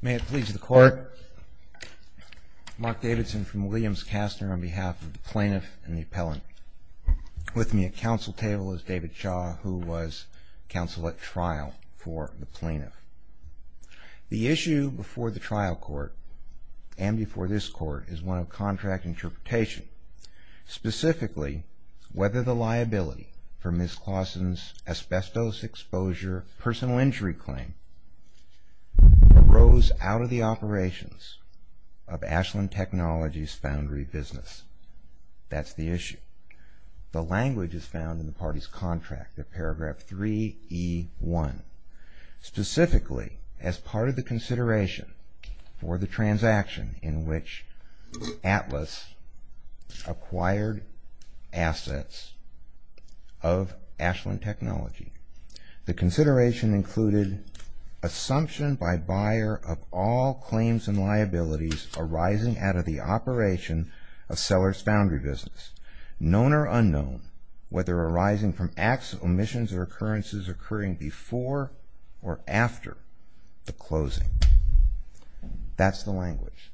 May it please the court. Mark Davidson from Williams-Castner on behalf of the plaintiff and the appellant. With me at counsel table is David Shaw, who was counsel at trial for the plaintiff. The issue before the trial court and before this court is one of contract interpretation. Specifically, whether the liability for Ms. Clausen's asbestos exposure personal injury claim arose out of the operations of Ashland Technologies Foundry Business. That's the issue. The language is found in the party's contract at paragraph 3E1. Specifically, as part of the consideration for the transaction in which Atlas acquired assets of Ashland Technologies, the consideration included assumption by buyer of all claims and liabilities arising out of the operation of Sellers Foundry Business. Known or unknown, whether arising from acts, omissions, or occurrences occurring before or after the closing. That's the language.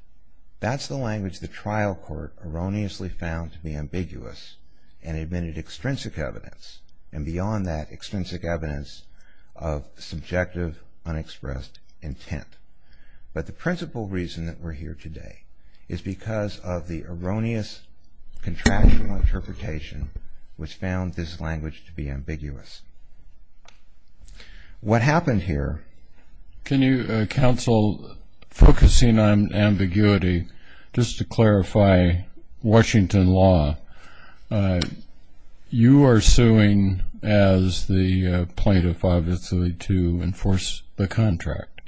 That's the language the trial court erroneously found to be ambiguous and admitted extrinsic evidence and beyond that, extrinsic evidence of subjective, unexpressed intent. But the principal reason that we're here today is because of the erroneous contractual interpretation which found this language to be ambiguous. What happened here? Can you counsel, focusing on ambiguity, just to clarify Washington law, you are suing as the plaintiff, obviously, to enforce the contract.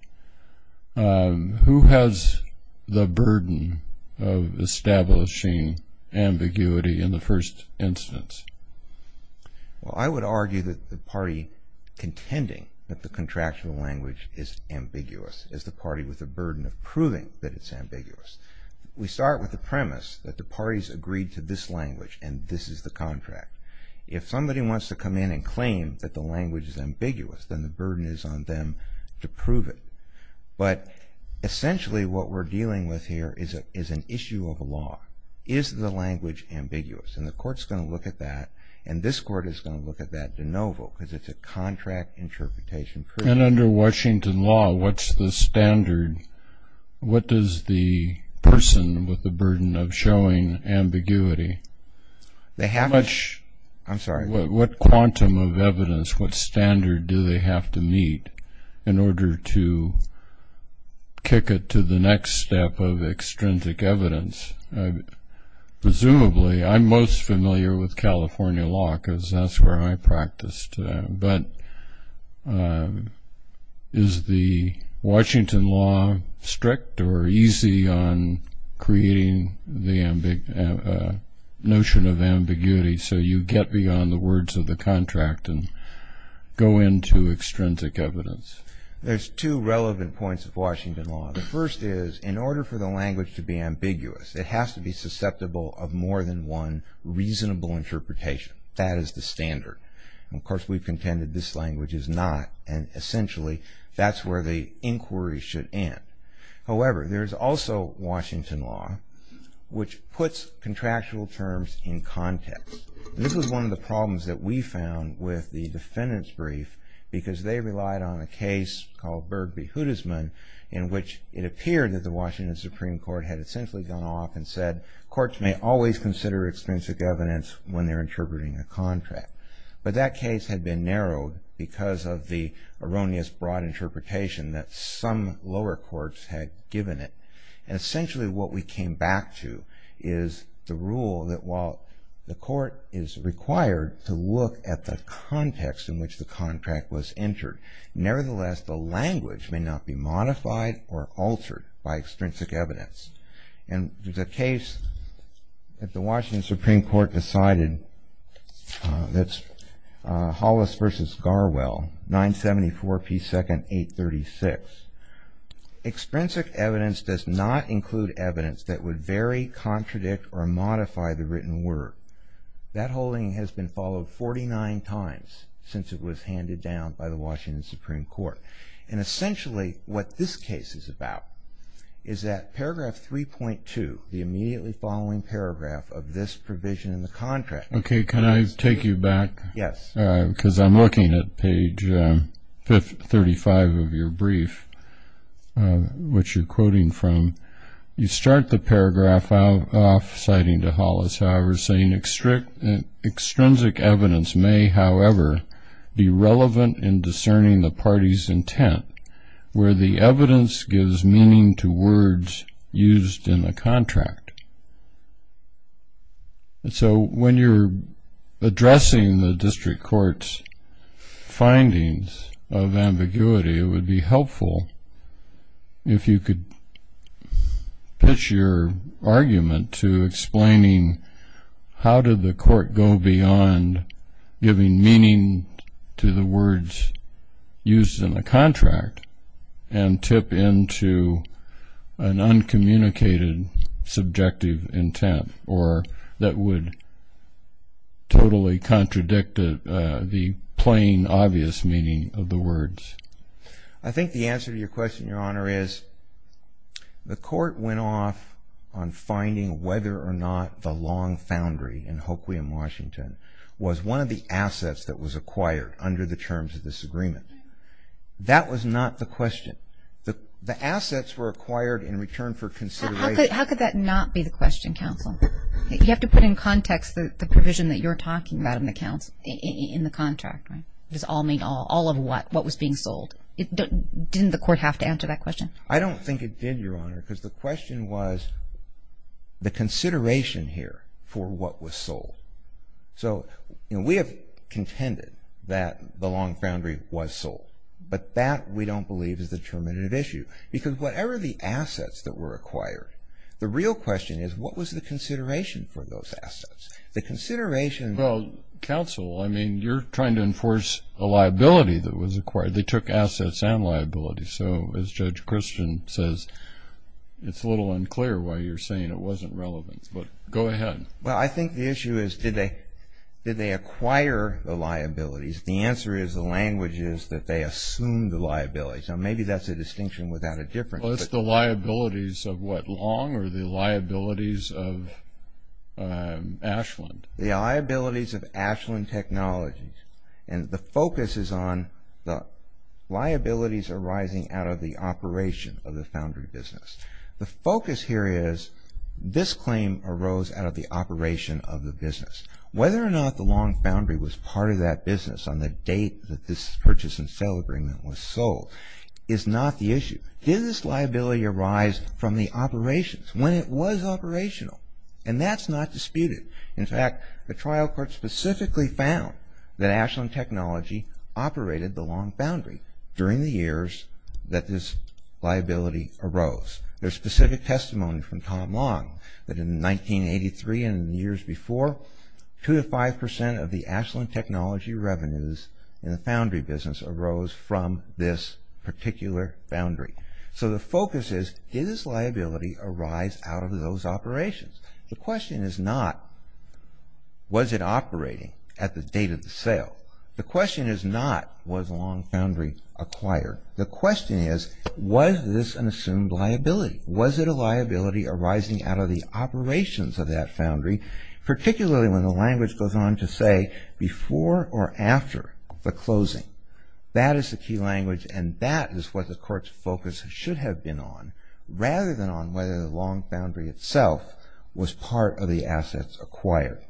Who has the burden of establishing ambiguity in the first instance? Well, I would argue that the party contending that the contractual language is ambiguous is the party with the burden of proving that it's ambiguous. We start with the premise that the parties agreed to this language and this is the contract. If somebody wants to come in and claim that the language is ambiguous, then the burden is on them to prove it. Essentially, what we're dealing with here is an issue of law. Is the language ambiguous? The court's going to look at that and this court is going to look at that de novo because it's a contract interpretation. Under Washington law, what's the standard? What does the person with the burden of showing ambiguity, what quantum of evidence, what standard do they have to meet? In order to kick it to the next step of extrinsic evidence, presumably, I'm most familiar with California law because that's where I practiced. But is the Washington law strict or easy on creating the notion of ambiguity so you get beyond the words of the contract and go into extrinsic evidence? There's two relevant points of Washington law. The first is in order for the language to be ambiguous, it has to be susceptible of more than one reasonable interpretation. That is the standard. Of course, we've contended this language is not and essentially that's where the inquiry should end. However, there's also Washington law which puts contractual terms in context. This was one of the problems that we found with the defendant's brief because they relied on a case called Bird v. Hudisman in which it appeared that the Washington Supreme Court had essentially gone off and said courts may always consider extrinsic evidence when they're interpreting a contract. But that case had been narrowed because of the erroneous broad interpretation that some lower courts had given it. And essentially what we came back to is the rule that while the court is required to look at the context in which the contract was entered, nevertheless, the language may not be modified or altered by extrinsic evidence. And there's a case that the Washington Supreme Court decided that's Hollis v. Garwell, 974p2 836. Extrinsic evidence does not include evidence that would vary, contradict, or modify the written word. That holding has been followed 49 times since it was handed down by the Washington Supreme Court. And essentially what this case is about is that paragraph 3.2, the immediately following paragraph of this provision in the contract. Okay, can I take you back? Yes. Because I'm looking at page 35 of your brief, which you're quoting from. You start the paragraph off citing to Hollis, however, saying, Extrinsic evidence may, however, be relevant in discerning the party's intent, where the evidence gives meaning to words used in the contract. And so when you're addressing the district court's findings of ambiguity, it would be helpful if you could pitch your argument to explaining how did the court go beyond giving meaning to the words used in the contract and tip into an uncommunicated subjective intent or that would totally contradict the plain obvious meaning of the words. I think the answer to your question, Your Honor, is the court went off on finding whether or not the long foundry in Hoquiam, Washington, was one of the assets that was acquired under the terms of this agreement. That was not the question. The assets were acquired in return for consideration. How could that not be the question, counsel? You have to put in context the provision that you're talking about in the contract. Does all mean all? All of what? What was being sold? Didn't the court have to answer that question? I don't think it did, Your Honor, because the question was the consideration here for what was sold. So we have contended that the long foundry was sold, but that we don't believe is the determinative issue. Because whatever the assets that were acquired, the real question is what was the consideration for those assets? Well, counsel, I mean, you're trying to enforce a liability that was acquired. They took assets and liabilities. So as Judge Christian says, it's a little unclear why you're saying it wasn't relevant. But go ahead. Well, I think the issue is did they acquire the liabilities? The answer is the language is that they assumed the liabilities. Now, maybe that's a distinction without a difference. Well, it's the liabilities of what long or the liabilities of Ashland? The liabilities of Ashland Technologies. And the focus is on the liabilities arising out of the operation of the foundry business. The focus here is this claim arose out of the operation of the business. Whether or not the long foundry was part of that business on the date that this purchase and sale agreement was sold, is not the issue. Did this liability arise from the operations when it was operational? And that's not disputed. In fact, the trial court specifically found that Ashland Technology operated the long foundry during the years that this liability arose. There's specific testimony from Tom Long that in 1983 and in the years before, two to five percent of the Ashland Technology revenues in the foundry business arose from this particular foundry. So the focus is did this liability arise out of those operations? The question is not was it operating at the date of the sale? The question is not was long foundry acquired? The question is was this an assumed liability? Was it a liability arising out of the operations of that foundry, particularly when the language goes on to say before or after the closing. That is the key language and that is what the court's focus should have been on, rather than on whether the long foundry itself was part of the assets acquired.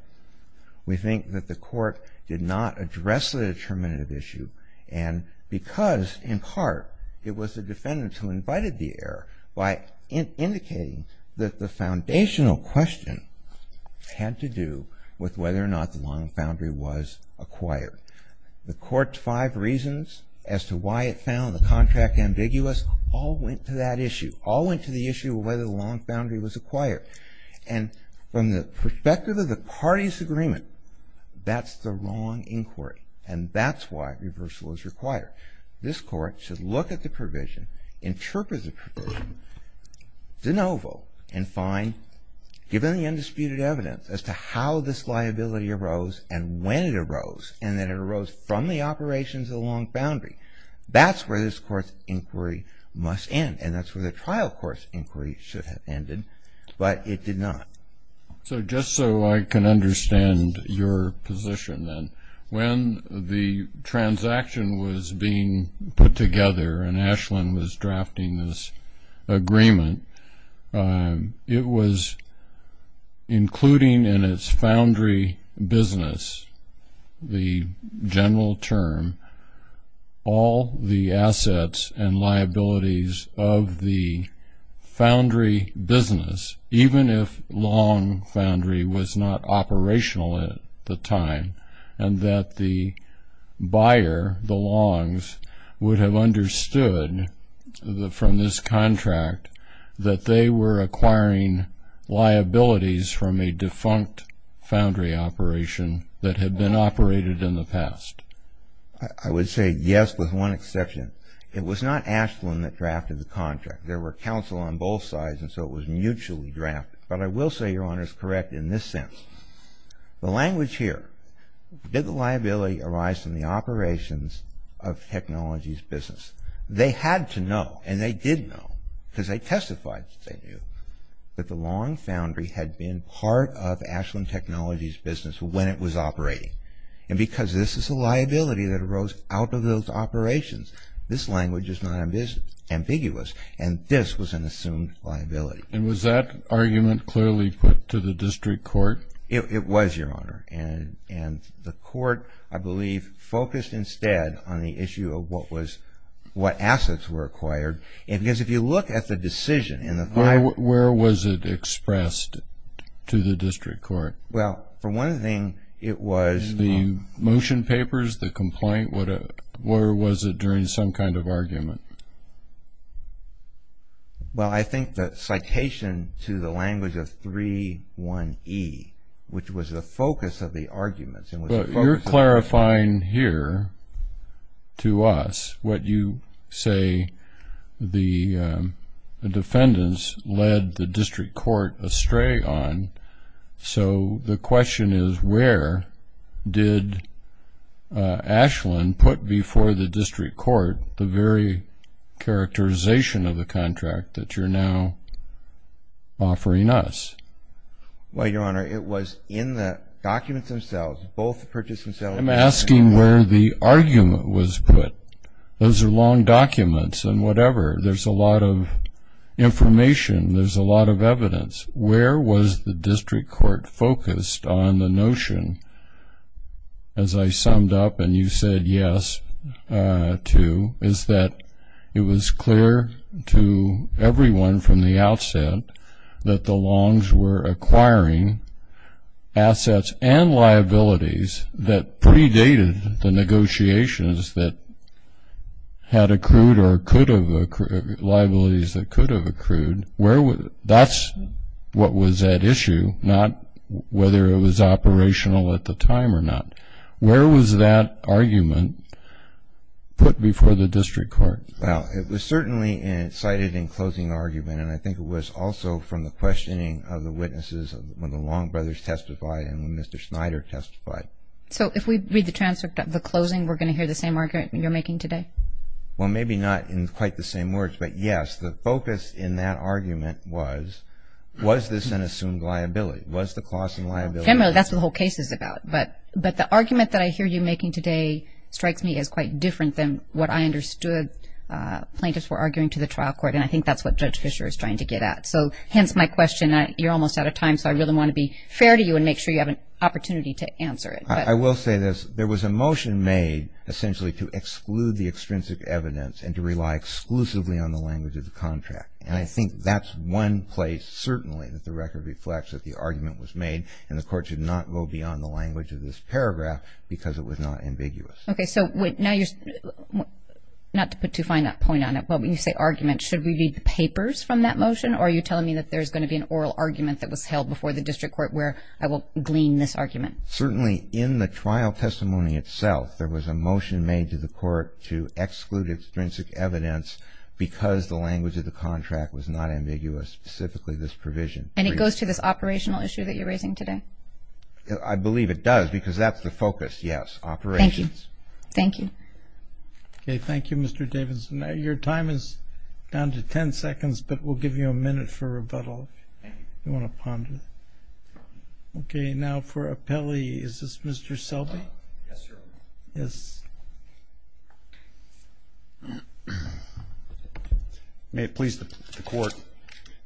We think that the court did not address the determinative issue and because in part it was the defendant who invited the error by indicating that the foundational question had to do with whether or not the long foundry was acquired. The court's five reasons as to why it found the contract ambiguous all went to that issue, all went to the issue of whether the long foundry was acquired. And from the perspective of the parties' agreement, that's the wrong inquiry and that's why reversal is required. This court should look at the provision, interpret the provision de novo and find given the undisputed evidence as to how this liability arose and when it arose and that it arose from the operations of the long foundry. That's where this court's inquiry must end and that's where the trial court's inquiry should have ended, but it did not. So just so I can understand your position then, when the transaction was being put together and Ashland was drafting this agreement, it was including in its foundry business the general term, all the assets and liabilities of the foundry business, even if long foundry was not operational at the time and that the buyer, the longs, would have understood from this contract that they were acquiring liabilities from a defunct foundry operation that had been operated in the past. I would say yes with one exception. It was not Ashland that drafted the contract. There were counsel on both sides and so it was mutually drafted. But I will say, Your Honor, it's correct in this sense. The language here, did the liability arise from the operations of technology's business? They had to know and they did know because they testified that they knew that the long foundry had been part of Ashland Technology's business when it was operating and because this is a liability that arose out of those operations, this language is not ambiguous and this was an assumed liability. And was that argument clearly put to the district court? It was, Your Honor, and the court, I believe, focused instead on the issue of what assets were acquired and because if you look at the decision in the file… Where was it expressed to the district court? Well, for one thing, it was… The motion papers, the complaint, where was it during some kind of argument? Well, I think the citation to the language of 3.1.E, which was the focus of the arguments… But you're clarifying here to us what you say the defendants led the district court astray on. So the question is where did Ashland put before the district court the very characterization of the contract that you're now offering us? Well, Your Honor, it was in the documents themselves. Both the purchasing settlement… I'm asking where the argument was put. Those are long documents and whatever. There's a lot of evidence. Where was the district court focused on the notion, as I summed up and you said yes to, is that it was clear to everyone from the outset that the Longs were acquiring assets and liabilities that predated the negotiations that had accrued or could have… liabilities that could have accrued. That's what was at issue, not whether it was operational at the time or not. Where was that argument put before the district court? Well, it was certainly cited in closing argument and I think it was also from the questioning of the witnesses when the Long brothers testified and when Mr. Snyder testified. So if we read the transcript of the closing, we're going to hear the same argument you're making today? Well, maybe not in quite the same words, but yes, the focus in that argument was, was this an assumed liability? Was the closing liability… Generally, that's what the whole case is about. But the argument that I hear you making today strikes me as quite different than what I understood plaintiffs were arguing to the trial court and I think that's what Judge Fischer is trying to get at. So hence my question. You're almost out of time, so I really want to be fair to you and make sure you have an opportunity to answer it. I will say this. There was a motion made essentially to exclude the extrinsic evidence and to rely exclusively on the language of the contract. And I think that's one place, certainly, that the record reflects that the argument was made and the court should not go beyond the language of this paragraph because it was not ambiguous. Okay, so now you're… not to put too fine a point on it, but when you say argument, should we read the papers from that motion or are you telling me that there's going to be an oral argument that was held before the district court where I will glean this argument? Certainly, in the trial testimony itself, there was a motion made to the court to exclude extrinsic evidence because the language of the contract was not ambiguous, specifically this provision. And it goes to this operational issue that you're raising today? I believe it does because that's the focus, yes, operations. Thank you. Okay, thank you, Mr. Davidson. Your time is down to 10 seconds, but we'll give you a minute for rebuttal if you want to ponder. Okay, now for appellee, is this Mr. Selby? Yes, Your Honor. Yes. May it please the court,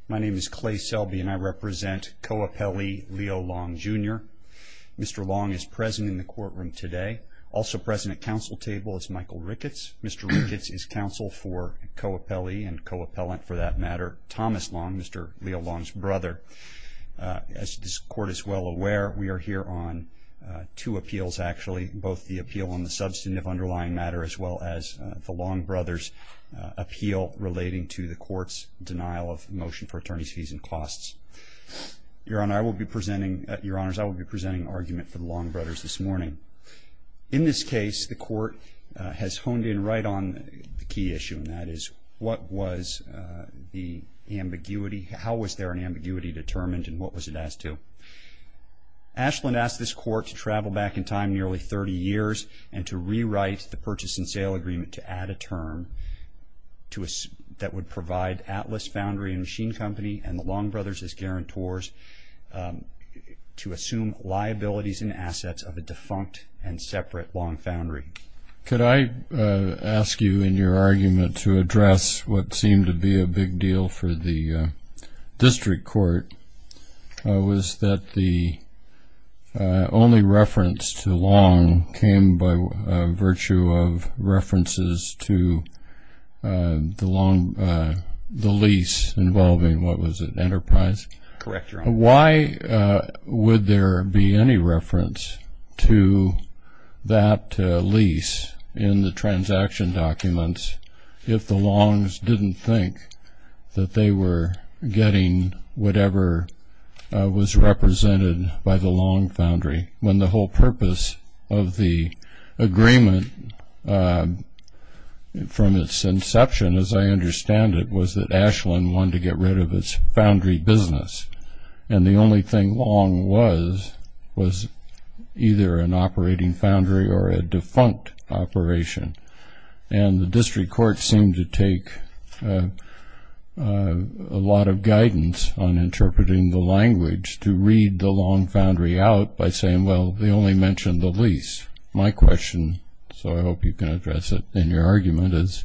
my name is Clay Selby and I represent co-appellee Leo Long, Jr. Mr. Long is present in the courtroom today. Also present at council table is Michael Ricketts. Mr. Ricketts is counsel for co-appellee and co-appellant for that matter, Thomas Long, Mr. Leo Long's brother. As this court is well aware, we are here on two appeals actually, both the appeal on the substantive underlying matter as well as the Long brothers' appeal relating to the court's denial of motion for attorney's fees and costs. Your Honor, I will be presenting argument for the Long brothers this morning. In this case, the court has honed in right on the key issue, and that is what was the ambiguity, how was there an ambiguity determined and what was it as to? Ashland asked this court to travel back in time nearly 30 years and to rewrite the purchase and sale agreement to add a term that would provide Atlas Foundry and Machine Company and the Long brothers as guarantors to assume liabilities and assets of a defunct and separate Long Foundry. Could I ask you in your argument to address what seemed to be a big deal for the district court was that the only reference to Long came by virtue of references to the lease involving, what was it, Enterprise? Correct, Your Honor. Why would there be any reference to that lease in the transaction documents if the Longs didn't think that they were getting whatever was represented by the Long Foundry when the whole purpose of the agreement from its inception, as I understand it, was that Ashland wanted to get rid of its foundry business and the only thing Long was was either an operating foundry or a defunct operation. And the district court seemed to take a lot of guidance on interpreting the language to read the Long Foundry out by saying, well, they only mentioned the lease. My question, so I hope you can address it in your argument, is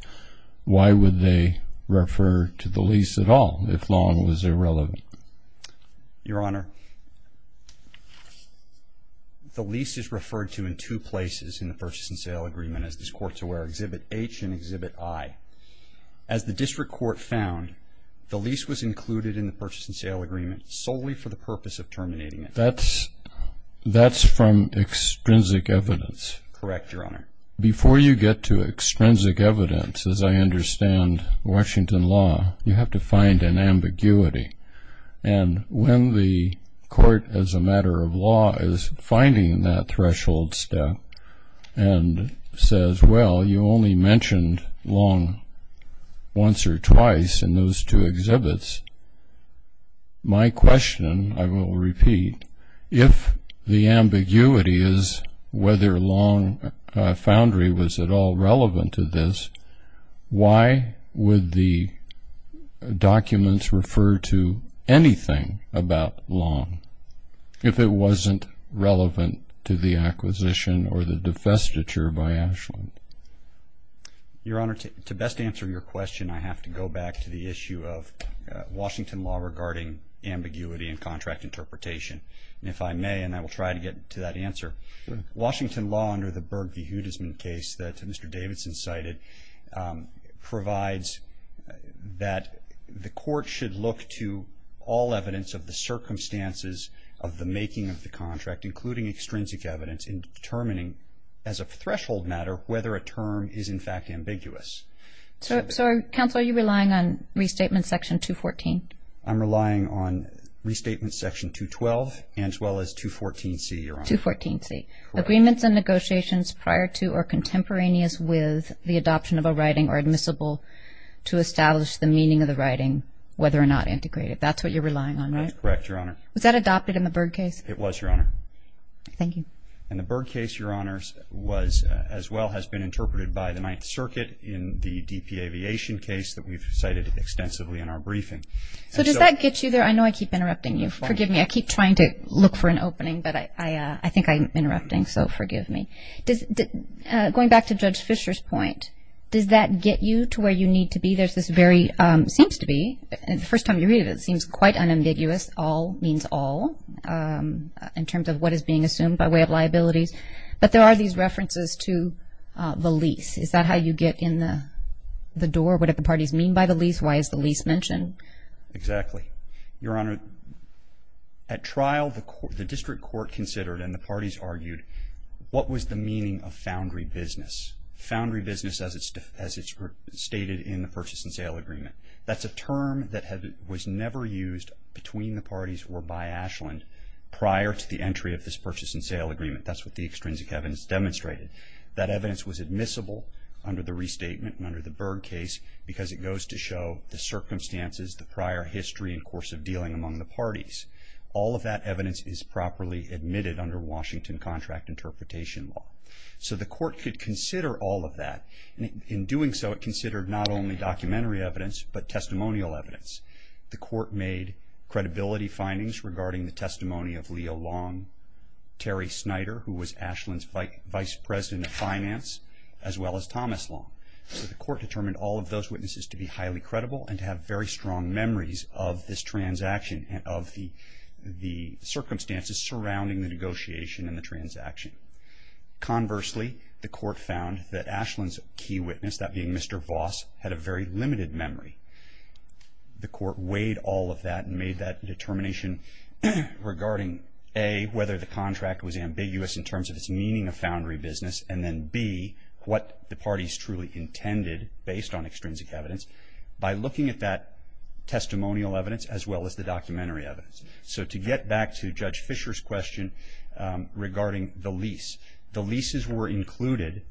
why would they refer to the lease at all if Long was irrelevant? Your Honor, the lease is referred to in two places in the purchase and sale agreement as this Court's aware, Exhibit H and Exhibit I. As the district court found, the lease was included in the purchase and sale agreement solely for the purpose of terminating it. That's from extrinsic evidence. Correct, Your Honor. Before you get to extrinsic evidence, as I understand Washington law, you have to find an ambiguity. And when the court, as a matter of law, is finding that threshold step and says, well, you only mentioned Long once or twice in those two exhibits, my question, I will repeat, if the ambiguity is whether Long Foundry was at all relevant to this, why would the documents refer to anything about Long if it wasn't relevant to the acquisition or the divestiture by Ashland? Your Honor, to best answer your question, I have to go back to the issue of Washington law regarding ambiguity and contract interpretation. And if I may, and I will try to get to that answer, Washington law under the Berg v. Hudisman case that Mr. Davidson cited provides that the court should look to all evidence of the circumstances of the making of the contract, including extrinsic evidence, in determining as a threshold matter whether a term is in fact ambiguous. So, counsel, are you relying on Restatement Section 214? I'm relying on Restatement Section 212 and as well as 214C, Your Honor. 214C. Agreements and negotiations prior to or contemporaneous with the adoption of a writing are admissible to establish the meaning of the writing, whether or not integrated. That's what you're relying on, right? That's correct, Your Honor. Was that adopted in the Berg case? It was, Your Honor. Thank you. And the Berg case, Your Honors, as well has been interpreted by the Ninth Circuit in the DP Aviation case that we've cited extensively in our briefing. So does that get you there? I know I keep interrupting you. Forgive me. I keep trying to look for an opening, but I think I'm interrupting, so forgive me. Going back to Judge Fischer's point, does that get you to where you need to be? There's this very, seems to be, the first time you read it, it seems quite unambiguous. All means all in terms of what is being assumed by way of liabilities. But there are these references to the lease. Is that how you get in the door? What do the parties mean by the lease? Why is the lease mentioned? Exactly. Your Honor, at trial, the district court considered and the parties argued, what was the meaning of foundry business? Foundry business, as it's stated in the purchase and sale agreement, that's a term that was never used between the parties or by Ashland prior to the entry of this purchase and sale agreement. That's what the extrinsic evidence demonstrated. That evidence was admissible under the restatement and under the Berg case because it goes to show the circumstances, the prior history, and course of dealing among the parties. All of that evidence is properly admitted under Washington contract interpretation law. So the court could consider all of that. In doing so, it considered not only documentary evidence but testimonial evidence. The court made credibility findings regarding the testimony of Leo Long, Terry Snyder, who was Ashland's vice president of finance, as well as Thomas Long. The court determined all of those witnesses to be highly credible and to have very strong memories of this transaction and of the circumstances surrounding the negotiation and the transaction. Conversely, the court found that Ashland's key witness, that being Mr. Voss, had a very limited memory. The court weighed all of that and made that determination regarding, A, whether the contract was ambiguous in terms of its meaning of foundry business, and then, B, what the parties truly intended based on extrinsic evidence by looking at that testimonial evidence as well as the documentary evidence. So to get back to Judge Fisher's question regarding the lease, the leases were included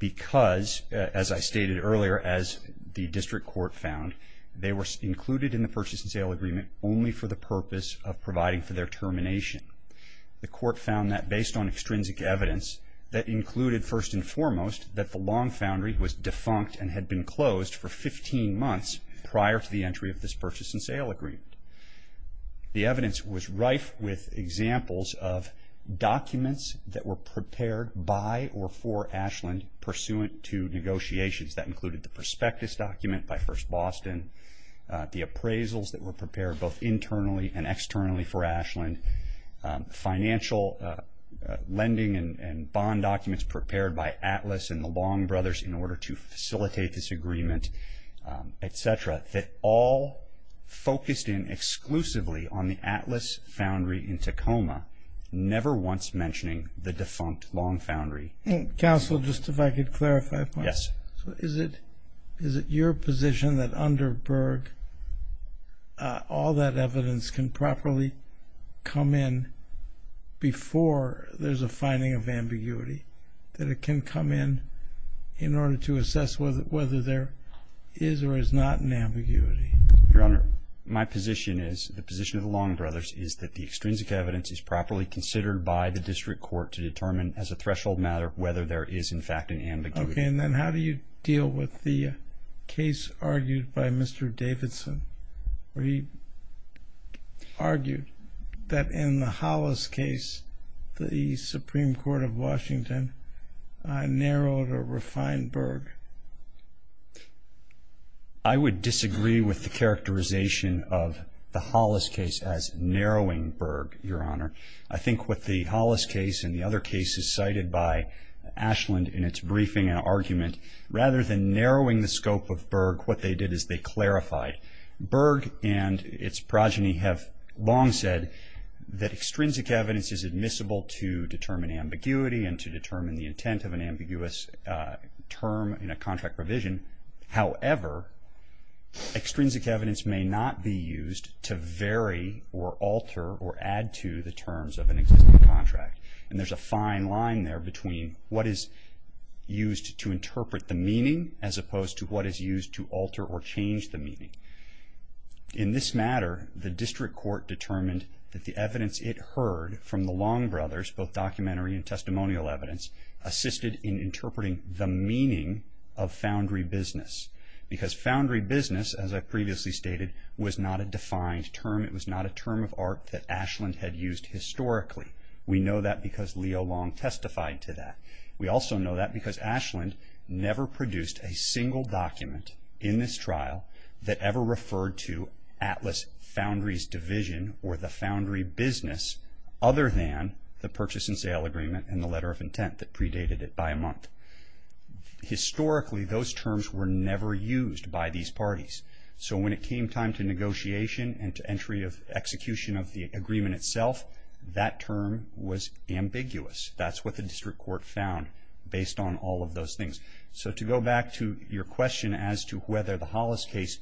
because, as I stated earlier, as the district court found, they were included in the purchase and sale agreement only for the purpose of providing for their termination. The court found that, based on extrinsic evidence, that included first and foremost that the Long Foundry was defunct and had been closed for 15 months prior to the entry of this purchase and sale agreement. The evidence was rife with examples of documents that were prepared by or for Ashland pursuant to negotiations. That included the prospectus document by First Boston, the appraisals that were prepared both internally and externally for Ashland, financial lending and bond documents prepared by Atlas and the Long Brothers in order to facilitate this agreement, et cetera, that all focused in exclusively on the Atlas foundry in Tacoma, never once mentioning the defunct Long Foundry. Counsel, just if I could clarify a point. Yes. So is it your position that under Berg all that evidence can properly come in before there's a finding of ambiguity, that it can come in in order to assess whether there is or is not an ambiguity? Your Honor, my position is, the position of the Long Brothers, is that the extrinsic evidence is properly considered by the district court to determine as a threshold matter whether there is in fact an ambiguity. Okay. And then how do you deal with the case argued by Mr. Davidson where he argued that in the Hollis case, the Supreme Court of Washington narrowed or refined Berg? I would disagree with the characterization of the Hollis case as narrowing Berg, Your Honor. I think what the Hollis case and the other cases cited by Ashland in its briefing and argument, rather than narrowing the scope of Berg, what they did is they clarified. Berg and its progeny have long said that extrinsic evidence is admissible to determine ambiguity and to determine the intent of an ambiguous term in a contract revision. However, extrinsic evidence may not be used to vary or alter or add to the terms of an existing contract. And there's a fine line there between what is used to interpret the meaning as opposed to what is used to alter or change the meaning. In this matter, the district court determined that the evidence it heard from the Long Brothers, both documentary and testimonial evidence, assisted in interpreting the meaning of foundry business. Because foundry business, as I previously stated, was not a defined term. It was not a term of art that Ashland had used historically. We know that because Leo Long testified to that. We also know that because Ashland never produced a single document in this trial that ever referred to Atlas Foundry's division or the foundry business other than the purchase and sale agreement and the letter of intent that predated it by a month. Historically, those terms were never used by these parties. So when it came time to negotiation and to entry of execution of the agreement itself, that term was ambiguous. That's what the district court found based on all of those things. So to go back to your question as to whether the Hollis case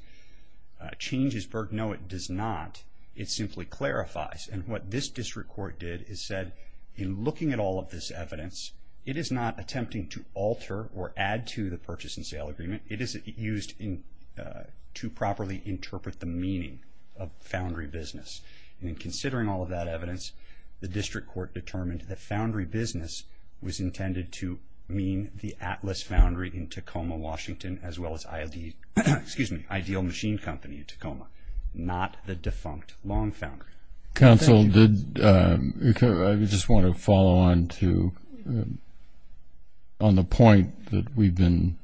changes, no, it does not. It simply clarifies. And what this district court did is said, in looking at all of this evidence, it is not attempting to alter or add to the purchase and sale agreement. It is used to properly interpret the meaning of foundry business. And in considering all of that evidence, the district court determined that foundry business was intended to mean the Atlas Foundry in Tacoma, Washington, as well as Ideal Machine Company in Tacoma, not the defunct Long Foundry. Counsel, I just want to follow on the point that we've been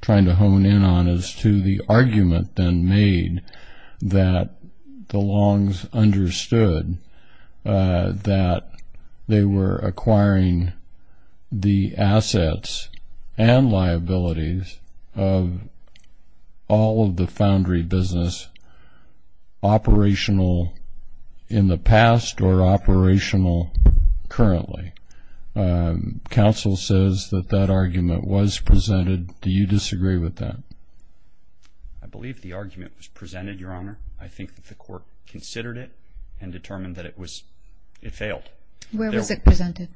trying to hone in on as to the argument then made that the Longs understood that they were acquiring the past or operational currently. Counsel says that that argument was presented. Do you disagree with that? I believe the argument was presented, Your Honor. I think that the court considered it and determined that it failed. Where was it presented?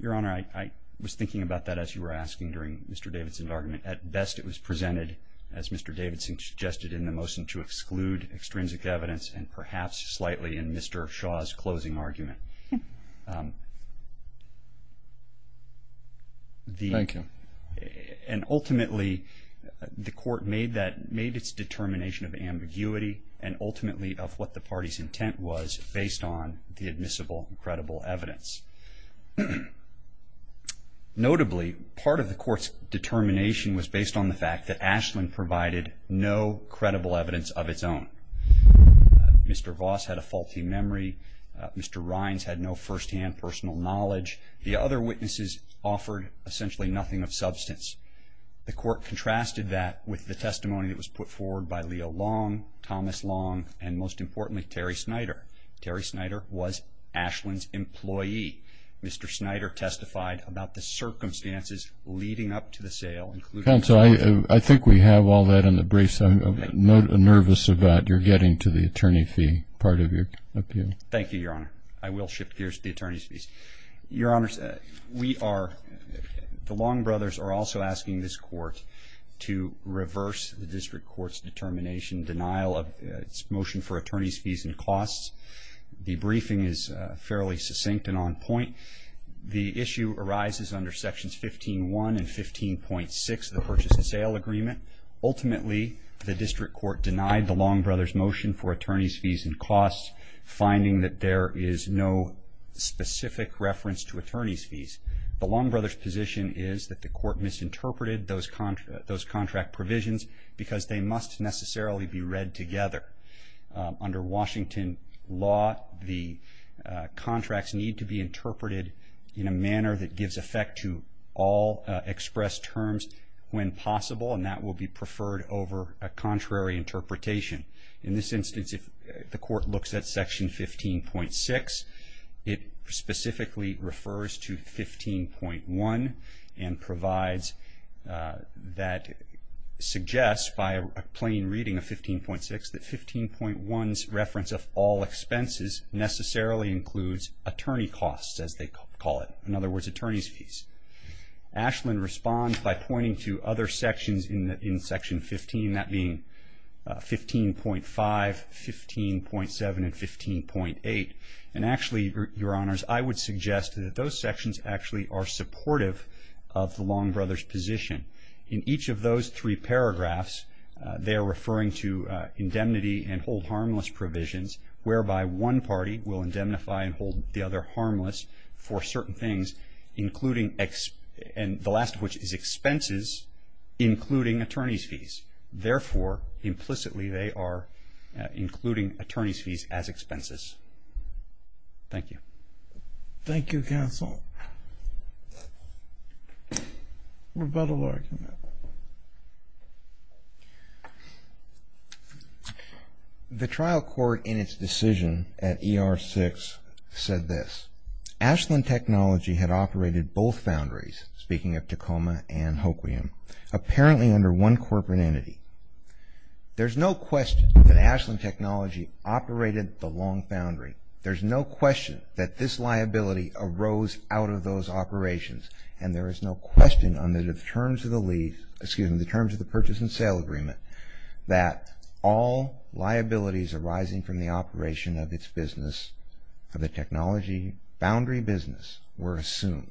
Your Honor, I was thinking about that as you were asking during Mr. Davidson's argument. At best, it was presented, as Mr. Davidson suggested in the motion, to exclude extrinsic evidence and perhaps slightly in Mr. Shaw's closing argument. Thank you. And ultimately, the court made its determination of ambiguity and ultimately of what the party's intent was based on the admissible and credible evidence. Notably, part of the court's determination was based on the fact that Ashland provided no credible evidence of its own. Mr. Voss had a faulty memory. Mr. Rines had no firsthand personal knowledge. The other witnesses offered essentially nothing of substance. The court contrasted that with the testimony that was put forward by Leo Long, Thomas Long, and most importantly, Terry Snyder. Terry Snyder was Ashland's employee. Mr. Snyder testified about the circumstances leading up to the sale, including the sale. Counsel, I think we have all that in the briefs. I'm nervous about your getting to the attorney fee part of your appeal. Thank you, Your Honor. I will shift gears to the attorney's fees. Your Honors, the Long brothers are also asking this court to reverse the district court's determination, denial of its motion for attorney's fees and costs. The briefing is fairly succinct and on point. The issue arises under Sections 15.1 and 15.6 of the Purchase and Sale Agreement. Ultimately, the district court denied the Long brothers' motion for attorney's fees and costs, finding that there is no specific reference to attorney's fees. The Long brothers' position is that the court misinterpreted those contract provisions because they must necessarily be read together. Under Washington law, the contracts need to be interpreted in a manner that gives effect to all expressed terms when possible, and that will be preferred over a contrary interpretation. In this instance, if the court looks at Section 15.6, it specifically refers to 15.1 and suggests by a plain reading of 15.6 that 15.1's reference of all expenses necessarily includes attorney costs, as they call it, in other words, attorney's fees. Ashland responds by pointing to other sections in Section 15, that being 15.5, 15.7, and 15.8. Actually, Your Honors, I would suggest that those sections actually are supportive of the Long brothers' position. In each of those three paragraphs, they are referring to indemnity and hold harmless provisions, whereby one party will indemnify and hold the other harmless for certain things, the last of which is expenses including attorney's fees. Therefore, implicitly, they are including attorney's fees as expenses. Thank you. Thank you, counsel. Rebuttal argument. The trial court in its decision at ER 6 said this, Ashland Technology had operated both foundries, speaking of Tacoma and Hoquiam, apparently under one corporate entity. There's no question that Ashland Technology operated the Long Foundry. There's no question that this liability arose out of those operations, and there is no question under the terms of the purchase and sale agreement that all liabilities arising from the operation of its business, of the technology boundary business, were assumed.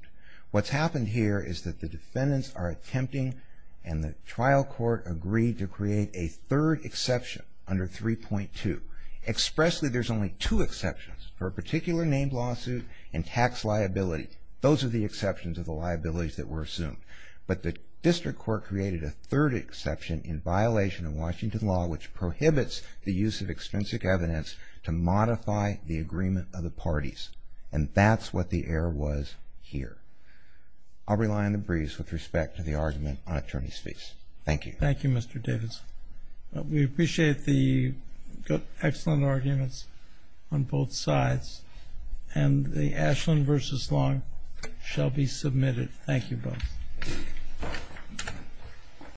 What's happened here is that the defendants are attempting, and the trial court agreed to create a third exception under 3.2. Expressly, there's only two exceptions for a particular named lawsuit and tax liability. Those are the exceptions of the liabilities that were assumed. But the district court created a third exception in violation of Washington law, which prohibits the use of extrinsic evidence to modify the agreement of the parties. And that's what the error was here. I'll rely on the briefs with respect to the argument on attorneys' fees. Thank you. Thank you, Mr. Davis. We appreciate the excellent arguments on both sides, and the Ashland v. Long shall be submitted. Thank you both.